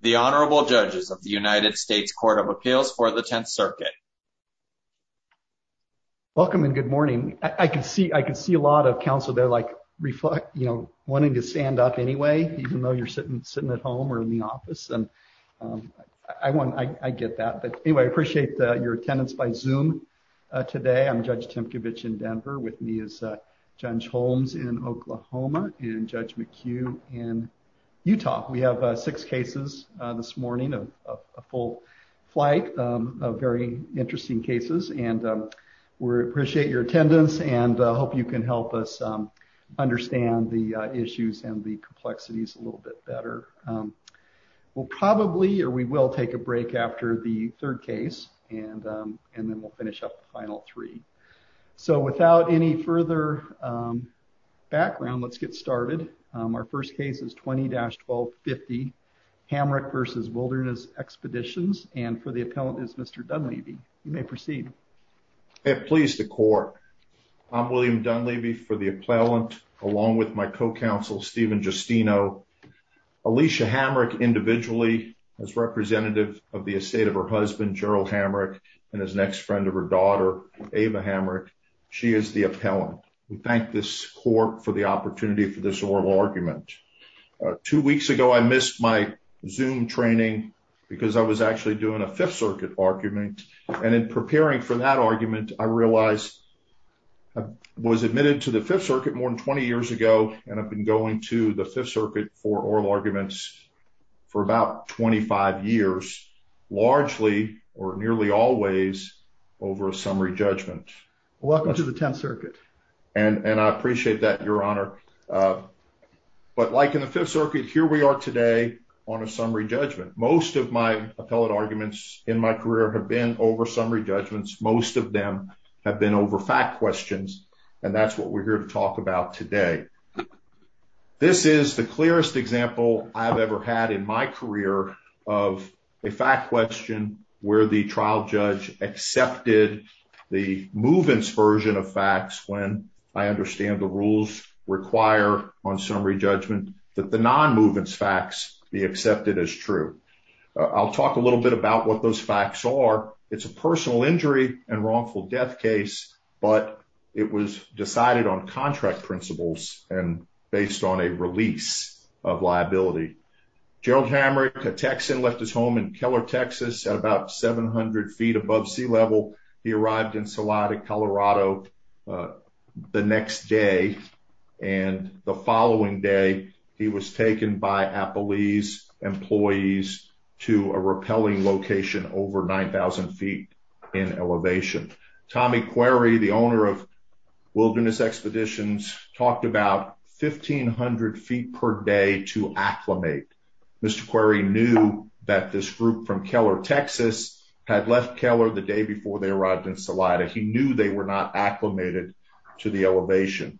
The Honorable Judges of the United States Court of Appeals for the Tenth Circuit. Welcome and good morning. I can see a lot of counsel there wanting to stand up anyway, even though you're sitting at home or in the office. I get that. But anyway, I appreciate your attendance by Zoom today. I'm Judge Tymkiewicz in Denver. With me is Judge Holmes in Oklahoma and Judge McHugh in Utah. We have six cases this morning, a full flight of very interesting cases. We appreciate your attendance and hope you can help us understand the issues and the complexities a little bit better. We will take a break after the third case and then we'll finish up the final three. So without any further background, let's get started. Our first case is 20-1250, Hamric v. Wilderness Expeditions. And for the appellant is Mr. Dunleavy. You may proceed. Please, the court. I'm William Dunleavy for the appellant along with my co-counsel Stephen Justino. Alicia Hamric individually as representative of the estate of her husband, Gerald Hamric, and his next friend of her daughter, Ava Hamric. She is the appellant. We thank this court for the opportunity for this oral argument. Two weeks ago, I missed my Zoom training because I was actually doing a Fifth Circuit argument. And in preparing for that argument, I realized I was admitted to the Fifth Circuit more than 20 years ago, and I've been going to the Fifth Circuit for oral arguments for about 25 years, largely or nearly always over a summary judgment. Welcome to the Tenth Circuit. And I appreciate that, Your Honor. But like in the Fifth Circuit, here we are today on a summary judgment. Most of my appellate arguments in my career have been over summary judgments. Most of them have been over fact questions. And that's what we're here to talk about today. This is the clearest example I've ever had in my career of a fact question where the trial judge accepted the movements version of facts when I understand the rules require on summary judgment that the non-movements facts be accepted as true. I'll talk a little bit about what those facts are. It's a personal injury and it was decided on contract principles and based on a release of liability. Gerald Hamrick, a Texan, left his home in Keller, Texas at about 700 feet above sea level. He arrived in Salada, Colorado the next day. And the following day, he was taken by Appalese employees to a rappelling location over 9,000 feet in elevation. Tommy Query, the owner of Wilderness Expeditions, talked about 1,500 feet per day to acclimate. Mr. Query knew that this group from Keller, Texas, had left Keller the day before they arrived in Salada. He knew they were not acclimated to the elevation.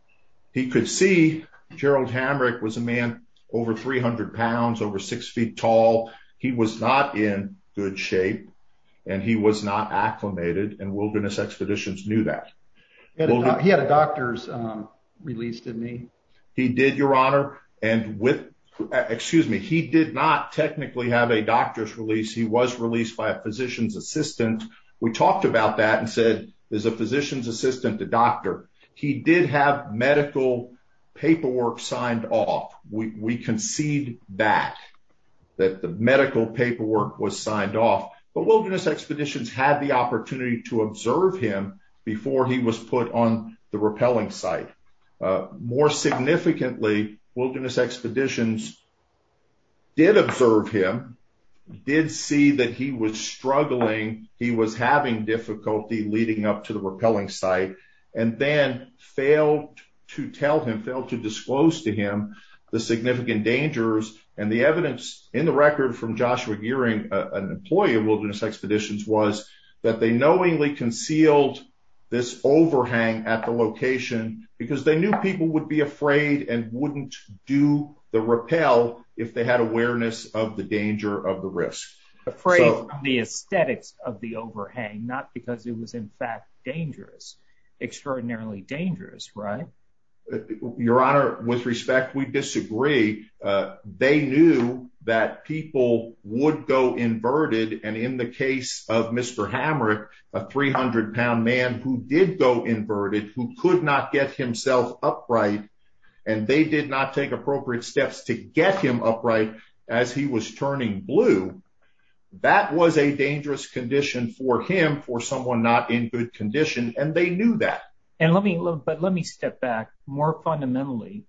He could see Gerald Hamrick was a man over 300 pounds, over six feet tall. He was not in good shape and he was not acclimated and Wilderness Expeditions knew that. He had a doctor's release, didn't he? He did, Your Honor. And with, excuse me, he did not technically have a doctor's release. He was released by a physician's assistant. We talked about that and said, there's a physician's assistant, a doctor. He did have paperwork signed off. We concede back that the medical paperwork was signed off. But Wilderness Expeditions had the opportunity to observe him before he was put on the rappelling site. More significantly, Wilderness Expeditions did observe him, did see that he was struggling, he was having difficulty leading up to the rappelling site, and then failed to tell him, failed to disclose to him the significant dangers. And the evidence in the record from Joshua Gearing, an employee of Wilderness Expeditions, was that they knowingly concealed this overhang at the location because they knew people would be afraid and wouldn't do the rappel if they had awareness of the danger of the risk. Afraid from the aesthetics of the overhang, not because it was in fact dangerous. Extraordinarily dangerous, right? Your Honor, with respect, we disagree. They knew that people would go inverted. And in the case of Mr. Hamrick, a 300-pound man who did go inverted, who could not get himself upright, and they did not take appropriate steps to get him upright as he was turning blue, that was a dangerous condition for him, for someone not in good condition, and they knew that. But let me step back. More fundamentally,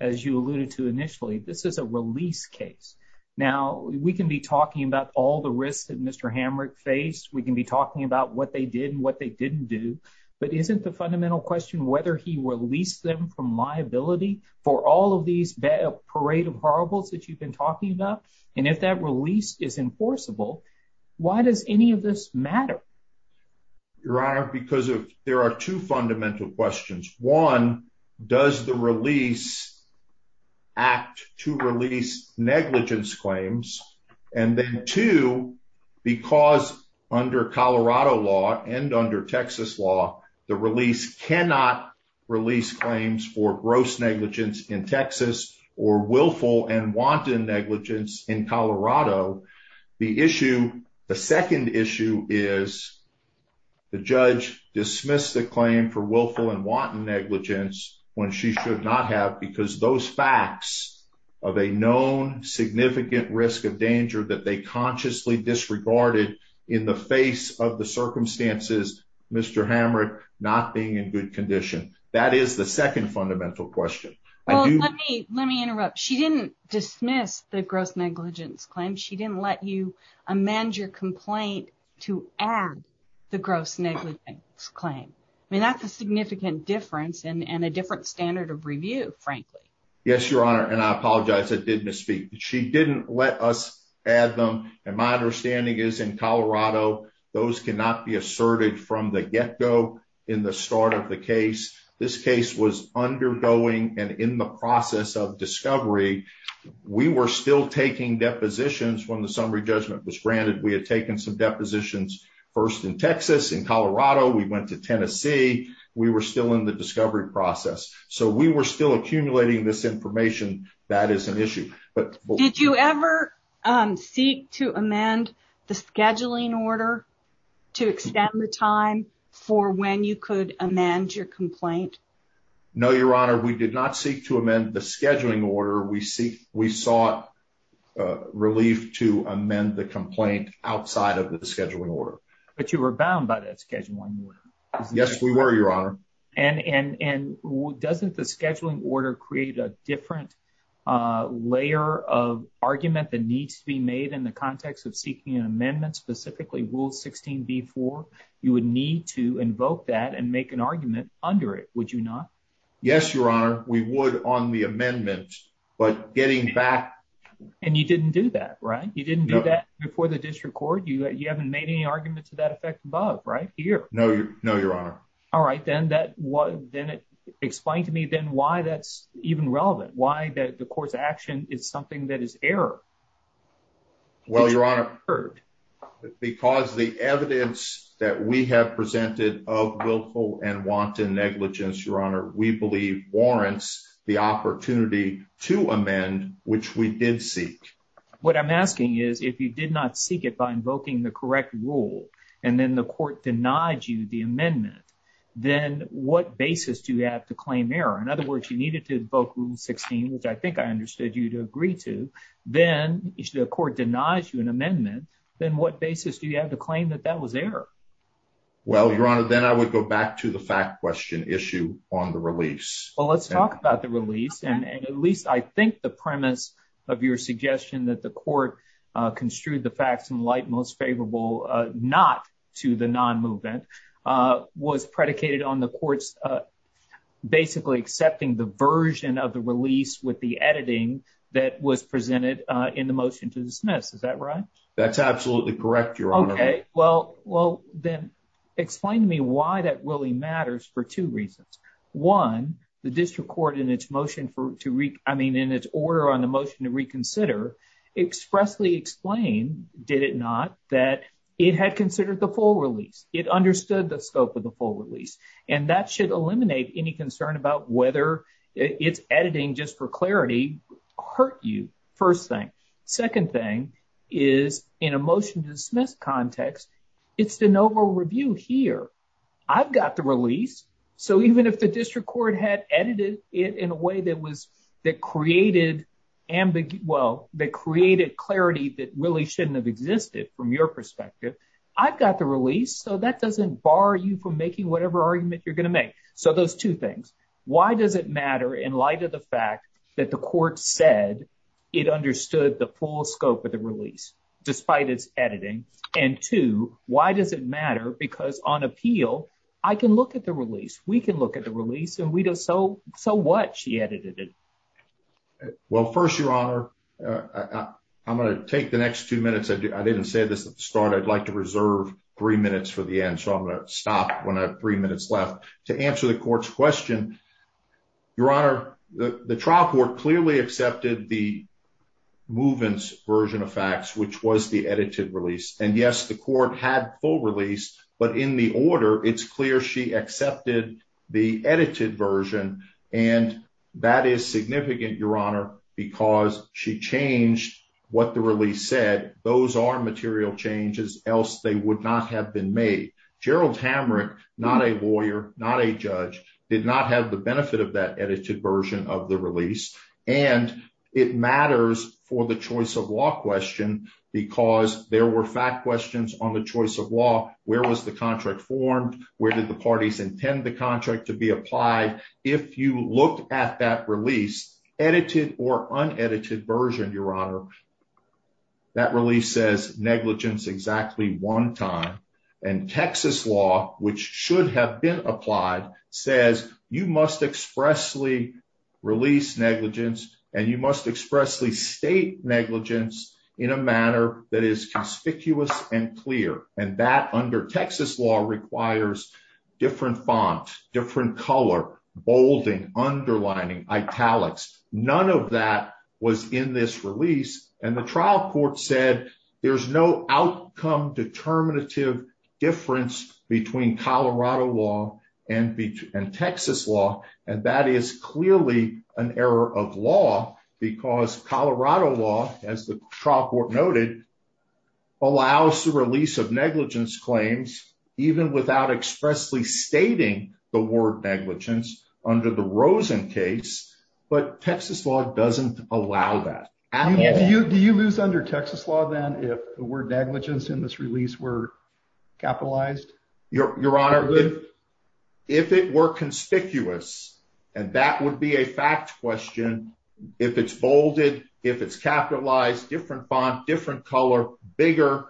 as you alluded to initially, this is a release case. Now, we can be talking about all the risks that Mr. Hamrick faced, we can be talking about what they did and what they didn't do, but isn't the fundamental question whether he released them from liability for all of these parade of horribles that you've been talking about? And if that release is enforceable, why does any of this matter? Your Honor, because there are two fundamental questions. One, does the release act to release negligence claims? And then two, because under Colorado law and under Texas law, the release cannot release claims for gross negligence in Texas or willful and wanton negligence in Colorado. The issue, the second issue is the judge dismissed the claim for willful and wanton negligence when she should not have because those facts of a known significant risk of danger that they consciously disregarded in the face of the circumstances, Mr. Hamrick not being in good condition. That is the second fundamental question. Let me interrupt. She didn't dismiss the gross negligence claim. She didn't let you amend your complaint to add the gross negligence claim. I mean, that's a significant difference and a different standard of review, frankly. Yes, let us add them. And my understanding is in Colorado, those cannot be asserted from the get-go in the start of the case. This case was undergoing and in the process of discovery. We were still taking depositions when the summary judgment was granted. We had taken some depositions first in Texas. In Colorado, we went to Tennessee. We were still in the discovery process. So, we were still accumulating this information. That is an issue. Did you ever seek to amend the scheduling order to extend the time for when you could amend your complaint? No, Your Honor. We did not seek to amend the scheduling order. We sought relief to amend the complaint outside of the scheduling order. But you were bound by that scheduling order. Yes, we were, Your Honor. And doesn't the scheduling order create a different layer of argument that needs to be made in the context of seeking an amendment, specifically Rule 16b-4? You would need to invoke that and make an argument under it, would you not? Yes, Your Honor, we would on the amendment. But getting back... And you didn't do that, right? You didn't do that before the district court? You haven't made any argument to that effect above, right? Here. No, Your Honor. All right, then explain to me then why that's even relevant. Why the court's action is something that is error? Well, Your Honor, because the evidence that we have presented of willful and wanton negligence, Your Honor, we believe warrants the opportunity to amend, which we did seek. What I'm asking is, if you did not seek it by invoking the correct rule, and then the court denied you the amendment, then what basis do you have to claim error? In other words, you needed to invoke Rule 16, which I think I understood you to agree to, then if the court denies you an amendment, then what basis do you have to claim that that was error? Well, Your Honor, then I would go back to the fact question issue on the release. Well, let's talk about the release, and at least I think the premise of your suggestion that the court construed the facts in light most favorable not to the non-movement was predicated on the court's basically accepting the version of the release with the editing that was presented in the motion to dismiss. Is that right? That's absolutely correct, Your Honor. Okay, well, then explain to me why that really I mean, in its order on the motion to reconsider, expressly explain, did it not, that it had considered the full release. It understood the scope of the full release, and that should eliminate any concern about whether it's editing just for clarity hurt you, first thing. Second thing is, in a motion to dismiss context, it's an over review here. I've got the release, so even if district court had edited it in a way that was that created ambiguity, well, that created clarity that really shouldn't have existed from your perspective. I've got the release, so that doesn't bar you from making whatever argument you're going to make. So those two things, why does it matter in light of the fact that the court said it understood the full scope of the release despite its editing? And two, why does it matter? Because on appeal, I can look at the release, we can look at the release, and we know so what she edited it. Well, first, Your Honor, I'm going to take the next two minutes. I didn't say this at the start. I'd like to reserve three minutes for the end, so I'm going to stop when I have three minutes left. To answer the court's question, Your Honor, the trial court clearly accepted the movement's version of facts, which was the edited release. And yes, the court had full release, but in the order, it's clear she accepted the edited version, and that is significant, Your Honor, because she changed what the release said. Those are material changes, else they would not have been made. Gerald Hamrick, not a lawyer, not a judge, did not have the benefit of that edited version of the release. And it matters for the choice of law question because there were fact questions on the choice of law. Where was the contract formed? Where did the parties intend the contract to be applied? If you look at that release, edited or unedited version, Your Honor, that release says negligence exactly one time. And Texas law, which should have been applied, says you must expressly release negligence, and you must expressly state negligence in a manner that is conspicuous and clear. And that, under Texas law, requires different font, different color, bolding, underlining, italics. None of that was in this release. And the trial court said there's no outcome determinative difference between Colorado law and Texas law, and that is clearly an error of law because Colorado law, as the trial court noted, allows the release of negligence claims even without expressly stating the word negligence under the Rosen case. But Texas law doesn't allow that. Do you lose under Texas law then if word negligence in this release were capitalized? Your Honor, if it were conspicuous, and that would be a fact question, if it's bolded, if it's capitalized, different font, different color, bigger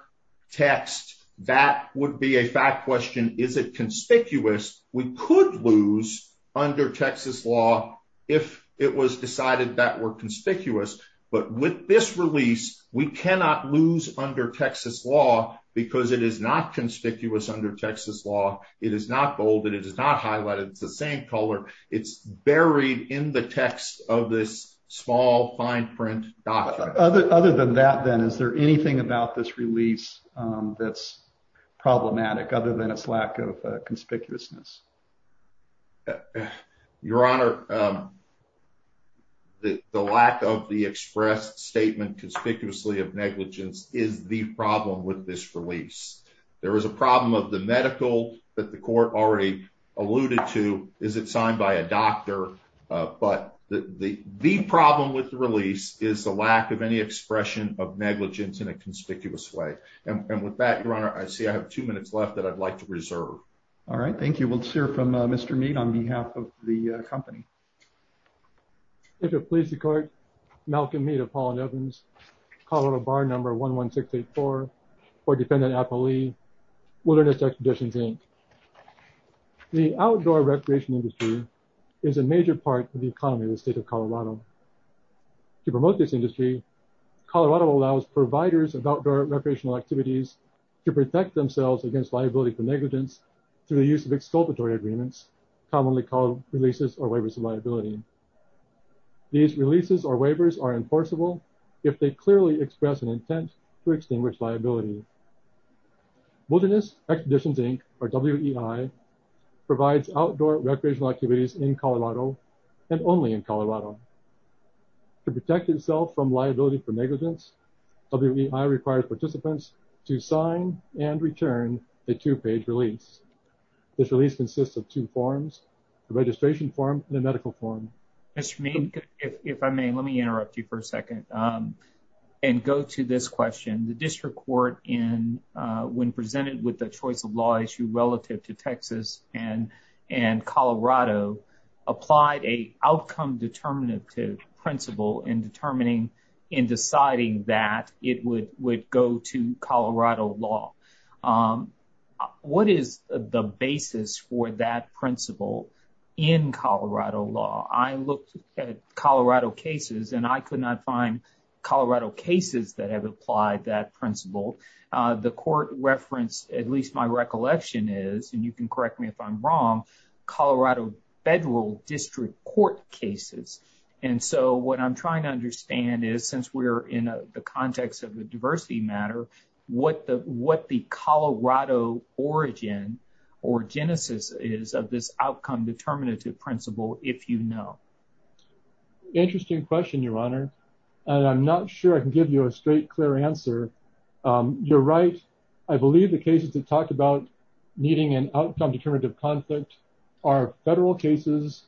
text, that would be a fact question. Is it conspicuous? We could lose under Texas law if it was decided that were conspicuous. But with this release, we cannot lose under Texas law because it is not conspicuous under Texas law. It is not bolded. It is not highlighted. It's the same color. It's buried in the text of this small, fine print document. Other than that, then, is there anything about this release that's problematic, other than its lack of conspicuousness? Your Honor, the lack of the express statement conspicuously of negligence is the problem with this release. There is a problem of the medical that the court already alluded to. Is it signed by a doctor? But the problem with the release is the lack of any expression of negligence in a conspicuous way. And with that, Your Honor, I see I have two minutes left that I'd like to reserve. All right. Thank you. We'll hear from Colorado Bar Number 11684 or Defendant Appley, Wilderness Expeditions, Inc. The outdoor recreation industry is a major part of the economy in the state of Colorado. To promote this industry, Colorado allows providers of outdoor recreational activities to protect themselves against liability for negligence through the use of exculpatory agreements, commonly called releases or waivers of liability. These releases or waivers are enforceable if they clearly express an intent to extinguish liability. Wilderness Expeditions, Inc., or WEI, provides outdoor recreational activities in Colorado and only in Colorado. To protect itself from liability for negligence, WEI requires participants to sign and return a two-page release. This release consists of two forms, the registration form and the medical form. Mr. Mead, if I may, let me interrupt you for a second and go to this question. The district court, when presented with the choice of law issue relative to Texas and Colorado, applied a outcome determinative principle in deciding that it would go to Colorado law. What is the basis for that principle in Colorado law? I looked at Colorado cases, and I could not find Colorado cases that have applied that principle. The court reference, at least my recollection is, and you can correct me if I'm wrong, Colorado federal district court cases. And so, what I'm trying to understand is, since we're in the context of the diversity matter, what the Colorado origin or genesis is of this outcome determinative principle, if you know. Interesting question, Your Honor. I'm not sure I can give you a straight, clear answer. You're right. I believe the cases that talk about needing an outcome determinative conflict are federal cases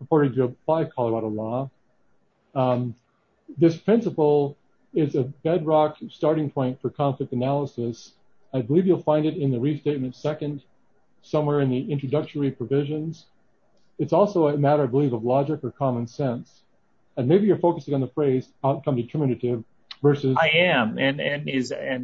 reported to apply Colorado law. This principle is a bedrock starting point for conflict analysis. I believe you'll find it in the restatement second, somewhere in the introductory provisions. It's also a matter, I believe, of logic or common sense. And maybe you're focusing on the phrase outcome determinative versus. I am, and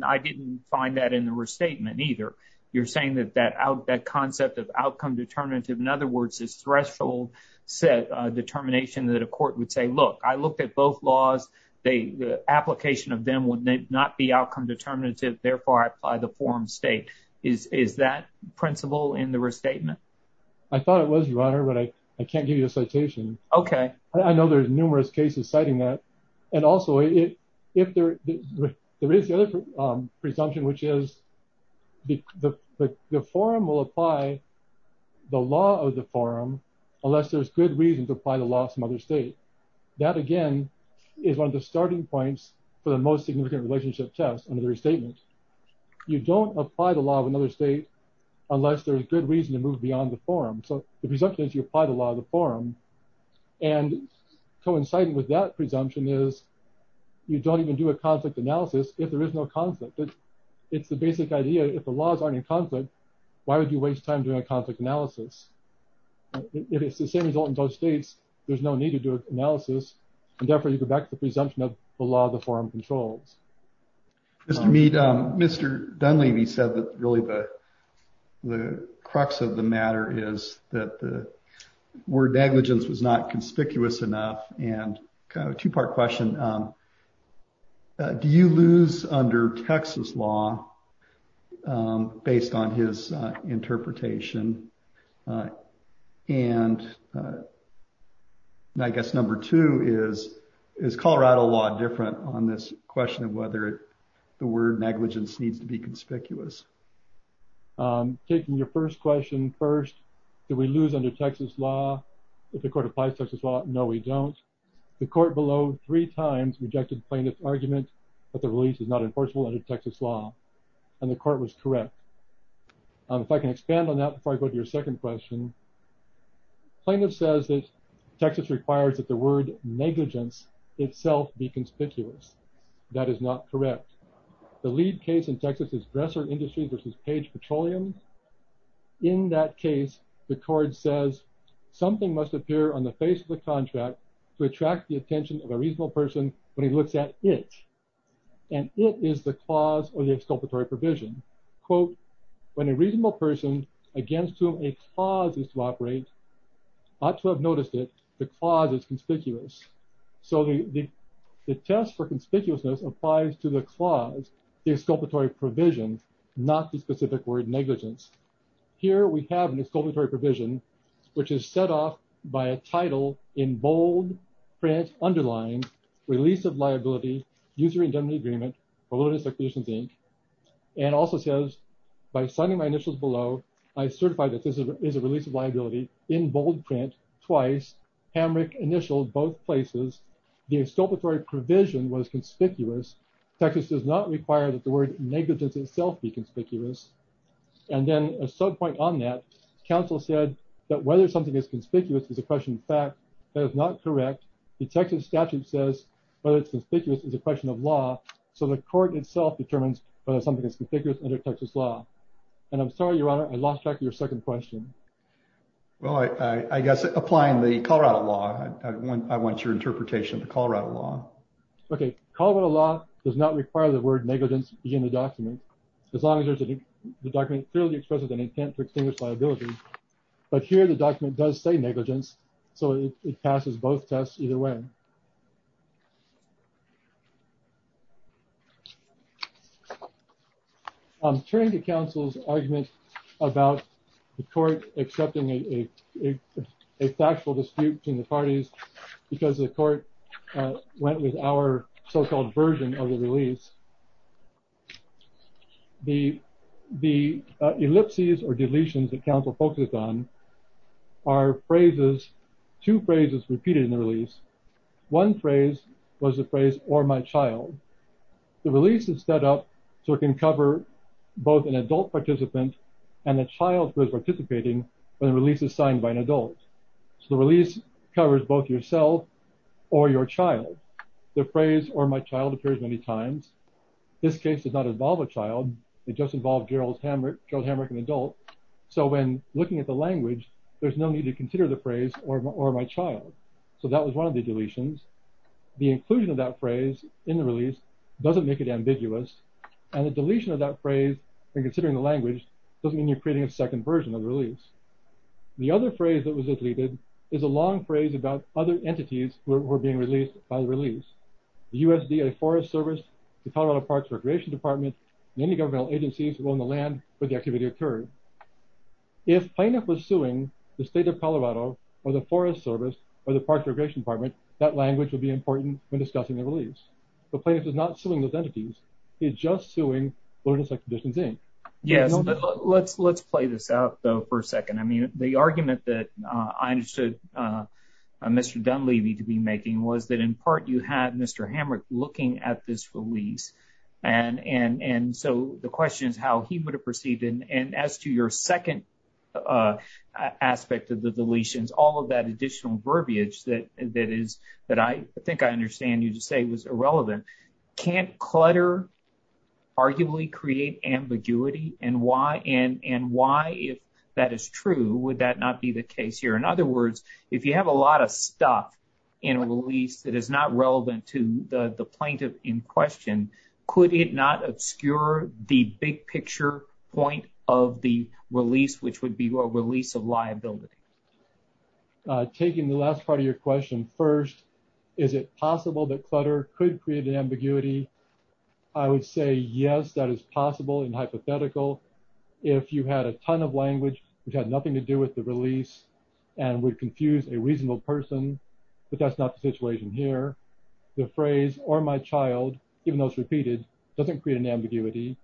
I didn't find that in the restatement either. You're saying that that concept of outcome determinative, in other words, is threshold determination that a court would say, look, I looked at both laws. The application of them would not be outcome determinative. Therefore, I apply the forum state. Is that principle in the restatement? I thought it was, Your Honor, but I can't give you a citation. Okay. I know there's numerous cases citing that. And also, if there is the other presumption, which is the forum will apply the law of the forum, unless there's good reason to apply the other state. That again is one of the starting points for the most significant relationship test under the restatement. You don't apply the law of another state unless there's good reason to move beyond the forum. So the presumption is you apply the law of the forum. And coinciding with that presumption is you don't even do a conflict analysis if there is no conflict. It's the basic idea. If the laws aren't in conflict, why would you waste time doing a conflict analysis? If it's the same result in both states, there's no need to do an analysis. And therefore, you go back to the presumption of the law of the forum controls. Mr. Mead, Mr. Dunleavy said that really the crux of the matter is that the word negligence was not conspicuous enough and kind of a two-part question. And do you lose under Texas law based on his interpretation? And I guess number two is, is Colorado law different on this question of whether the word negligence needs to be conspicuous? Taking your first question first, do we lose under Texas law? If the court applies Texas law, no, we don't. The court below three times rejected plaintiff's argument that the release is not enforceable under Texas law. And the court was correct. If I can expand on that before I go to your second question, plaintiff says that Texas requires that the word negligence itself be conspicuous. That is not correct. The lead case in Texas is Dresser Industries versus Page Petroleum. In that case, the court says something must appear on the face of the contract to attract the attention of a reasonable person when he looks at it. And it is the clause or the exculpatory provision. Quote, when a reasonable person against whom a clause is to operate, ought to have noticed it, the clause is conspicuous. So the test for conspicuousness applies to the clause, the exculpatory provision, not the specific word negligence. Here we have an exculpatory provision, which is set off by a title in bold print underlined, release of liability, user indemnity agreement, and also says by signing my initials below, I certify that this is a release of liability in bold print twice, Hamrick initialed both places. The exculpatory provision was conspicuous. Texas does not require that the word negligence itself be conspicuous. And then a sub point on that counsel said that whether something is conspicuous is a question of fact that is not correct. The Texas statute says whether it's conspicuous is a question of law. So the court itself determines whether something is conspicuous under Texas law. And I'm sorry, Your Honor, I lost track of your second question. Well, I guess applying the Colorado law, I want your interpretation of the Colorado law. Okay. Colorado law does not require the word negligence in the document, as long as the document clearly expresses an intent to extinguish liability. But here the document does say negligence. So it passes both tests either way. I'm turning to counsel's argument about the court accepting a factual dispute between the parties because the court went with our so-called version of the release. The ellipses or deletions that counsel focuses on are phrases, two phrases repeated in the release. One phrase was the phrase or my child. The release is set up so it can cover both an adult participant and the child who is participating when the release is signed by an adult. So the release covers both yourself or your child. The phrase or my child appears many times. This case does not involve a child. It just involved Gerald Hamrick, an adult. So when looking at the language, there's no need to consider the phrase or my child. So that was one of the deletions. The inclusion of that phrase in the release doesn't make it ambiguous. And the deletion of that phrase and considering the language doesn't mean you're creating a second version of the release. The other phrase that was deleted is a long phrase about other entities who were being released by the release. The USDA Forest Service, the Colorado Parks Recreation Department, many governmental agencies who own the land where the activity occurred. If plaintiff was suing the state of Colorado or the Forest Service or the Parks Recreation Department, that language would be important when discussing the release. But plaintiff is not suing those entities. He's just suing Learn to Select the Distance, Inc. Yes. Let's play this out, though, for a second. I mean, the argument that I understood Mr. Dunleavy to be making was that in part you had Mr. Hamrick looking at this release. And so the question is how he would have perceived it. And as to your second aspect of the deletions, all of that additional verbiage that I think I understand you to say was irrelevant, can't clutter arguably create ambiguity? And why, if that is true, would that not be the case here? In other words, if you have a lot of stuff in a release that is not relevant to the plaintiff in question, could it not obscure the big picture point of the release, which would be a release of liability? Taking the last part of your question first, is it possible that clutter could create an ambiguity? I would say yes, that is possible and hypothetical. If you had a ton of language which had nothing to do with the release and would confuse a reasonable person, but that's not the situation here. The phrase or my child, even though it's repeated, doesn't create an ambiguity.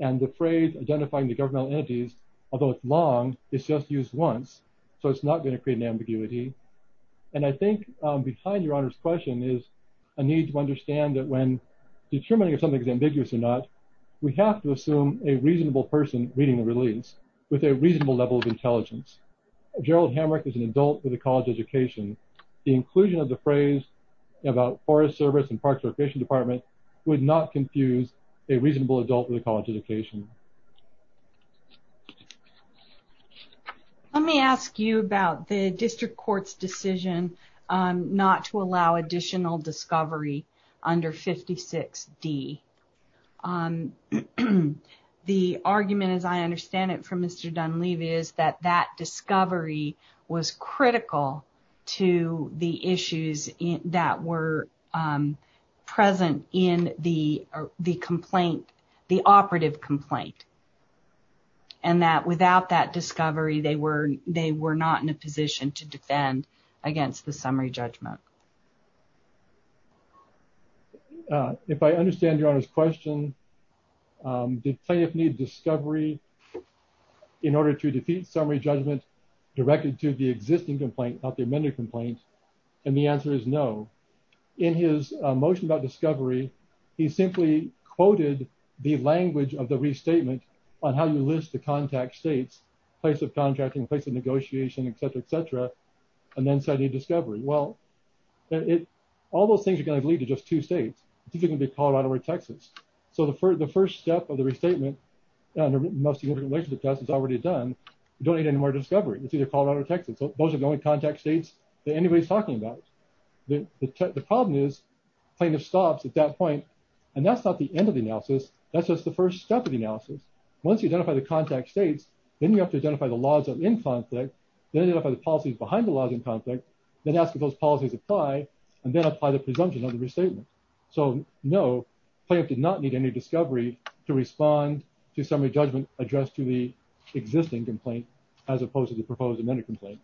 And the phrase identifying the governmental entities, although it's long, is just used once. So it's not going to create an ambiguity. And I think behind your honor's question is a need to understand that when determining if something is ambiguous or not, we have to assume a reasonable person reading the release with a reasonable level of intelligence. Gerald Hamrick is an adult with a college education. The inclusion of the phrase about Forest Service and Parks and Recreation Department would not confuse a reasonable adult with a college education. Let me ask you about the district court's decision not to allow additional discovery under 56D. The argument, as I understand it from Mr. Dunleavy, is that that discovery was critical to the issues that were present in the complaint, the operative complaint. And that without that discovery, they were not in a position to defend against the summary judgment. If I understand your honor's question, did plaintiff need discovery in order to defeat summary judgment directed to the existing complaint, not the amended complaint? And the answer is no. In his motion about discovery, he simply quoted the language of the restatement on how you list the contact states, place of contracting, place of negotiation, et cetera, et cetera, and then said, need discovery. Well, all those things are going to lead to just two states. It's either going to be Colorado or Texas. So the first step of the restatement under most significant relationship test is already done. You don't need any more discovery. It's either Colorado or Texas. Those are the only contact states that anybody's talking about. The problem is plaintiff stops at that point, and that's not the end of the analysis. That's just the first step of the analysis. Once you identify the contact states, then you have to identify the policies behind the laws in conflict, then ask if those policies apply, and then apply the presumption of the restatement. So no, plaintiff did not need any discovery to respond to summary judgment addressed to the existing complaint, as opposed to the proposed amended complaint.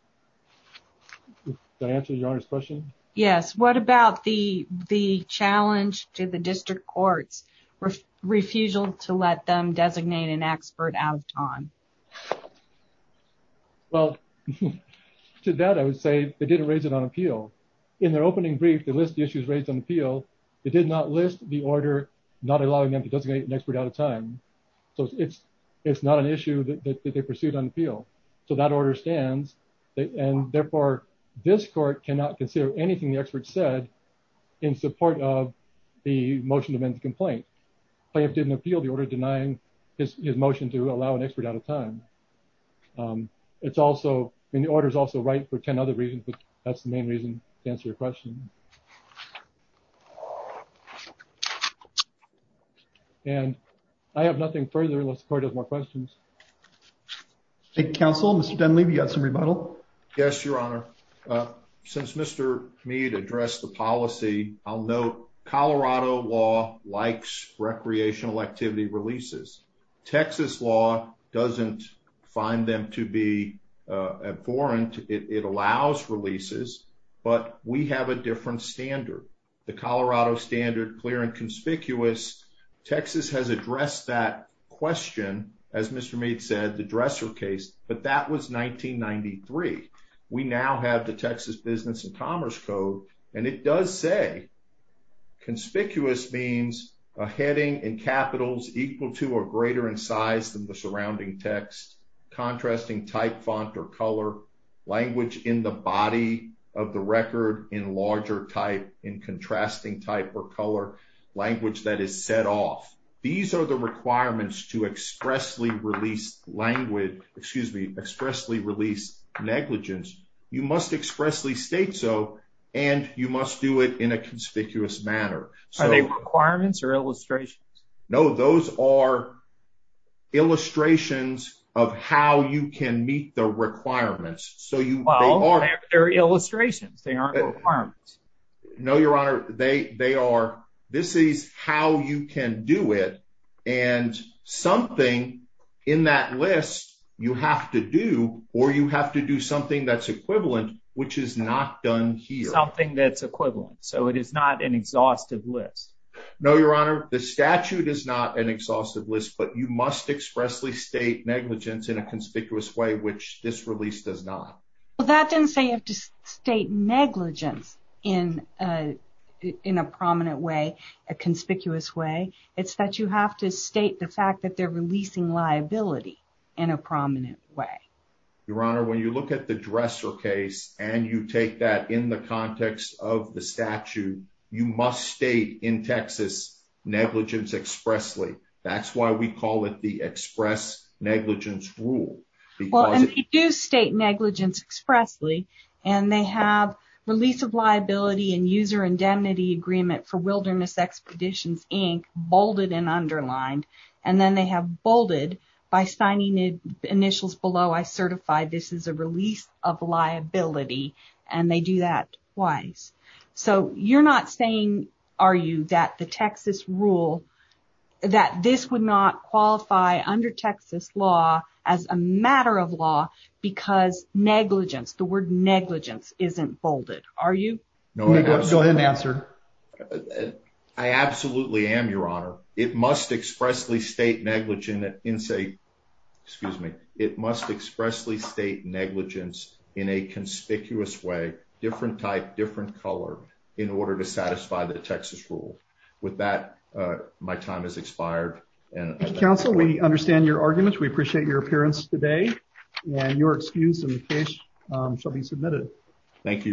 Does that answer your honor's question? Yes. What about the challenge to the data? I would say they didn't raise it on appeal. In their opening brief, they list the issues raised on appeal. They did not list the order not allowing them to designate an expert out of time. So it's not an issue that they pursued on appeal. So that order stands, and therefore, this court cannot consider anything the expert said in support of the motion to amend the complaint. Plaintiff didn't appeal the order denying his motion to allow an expert out of time. And the order is also right for 10 other reasons, but that's the main reason to answer your question. And I have nothing further unless the court has more questions. Hey, counsel, Mr. Dunleavy, you got some rebuttal? Yes, your honor. Since Mr. Mead addressed the find them to be abhorrent, it allows releases, but we have a different standard. The Colorado standard, clear and conspicuous, Texas has addressed that question, as Mr. Mead said, the dresser case, but that was 1993. We now have the Texas Business and Commerce Code, and it does say conspicuous means a heading and capitals equal to or greater in size than the contrasting type font or color language in the body of the record in larger type, in contrasting type or color language that is set off. These are the requirements to expressly release language, excuse me, expressly release negligence. You must expressly state so, and you must do it in a conspicuous manner. Are they requirements or illustrations? No, those are illustrations of how you can meet the requirements. So you are illustrations. No, your honor. They are. This is how you can do it. And something in that list you have to do, or you have to do something that's equivalent, which is not done here. Something that's not an exhaustive list, but you must expressly state negligence in a conspicuous way, which this release does not. Well, that doesn't say you have to state negligence in a prominent way, a conspicuous way. It's that you have to state the fact that they're releasing liability in a prominent way. Your honor, when you look at the dresser case and you take that in the context of the statute, you must state in Texas negligence expressly. That's why we call it the express negligence rule. Well, and they do state negligence expressly, and they have release of liability and user indemnity agreement for Wilderness Expeditions, Inc. bolded and underlined. And then they have bolded by signing initials below, I certify this is a release of liability, and they do that twice. So you're not saying, are you, that the Texas rule, that this would not qualify under Texas law as a matter of law because negligence, the word negligence isn't bolded, are you? Go ahead and answer. Uh, I absolutely am your honor. It must expressly state negligence in say, excuse me, it must expressly state negligence in a conspicuous way, different type, different color in order to satisfy the Texas rule. With that, uh, my time has expired. And counsel, we understand your arguments. We appreciate your appearance today and your excuse in the case, um, shall be submitted. Thank you, your honor.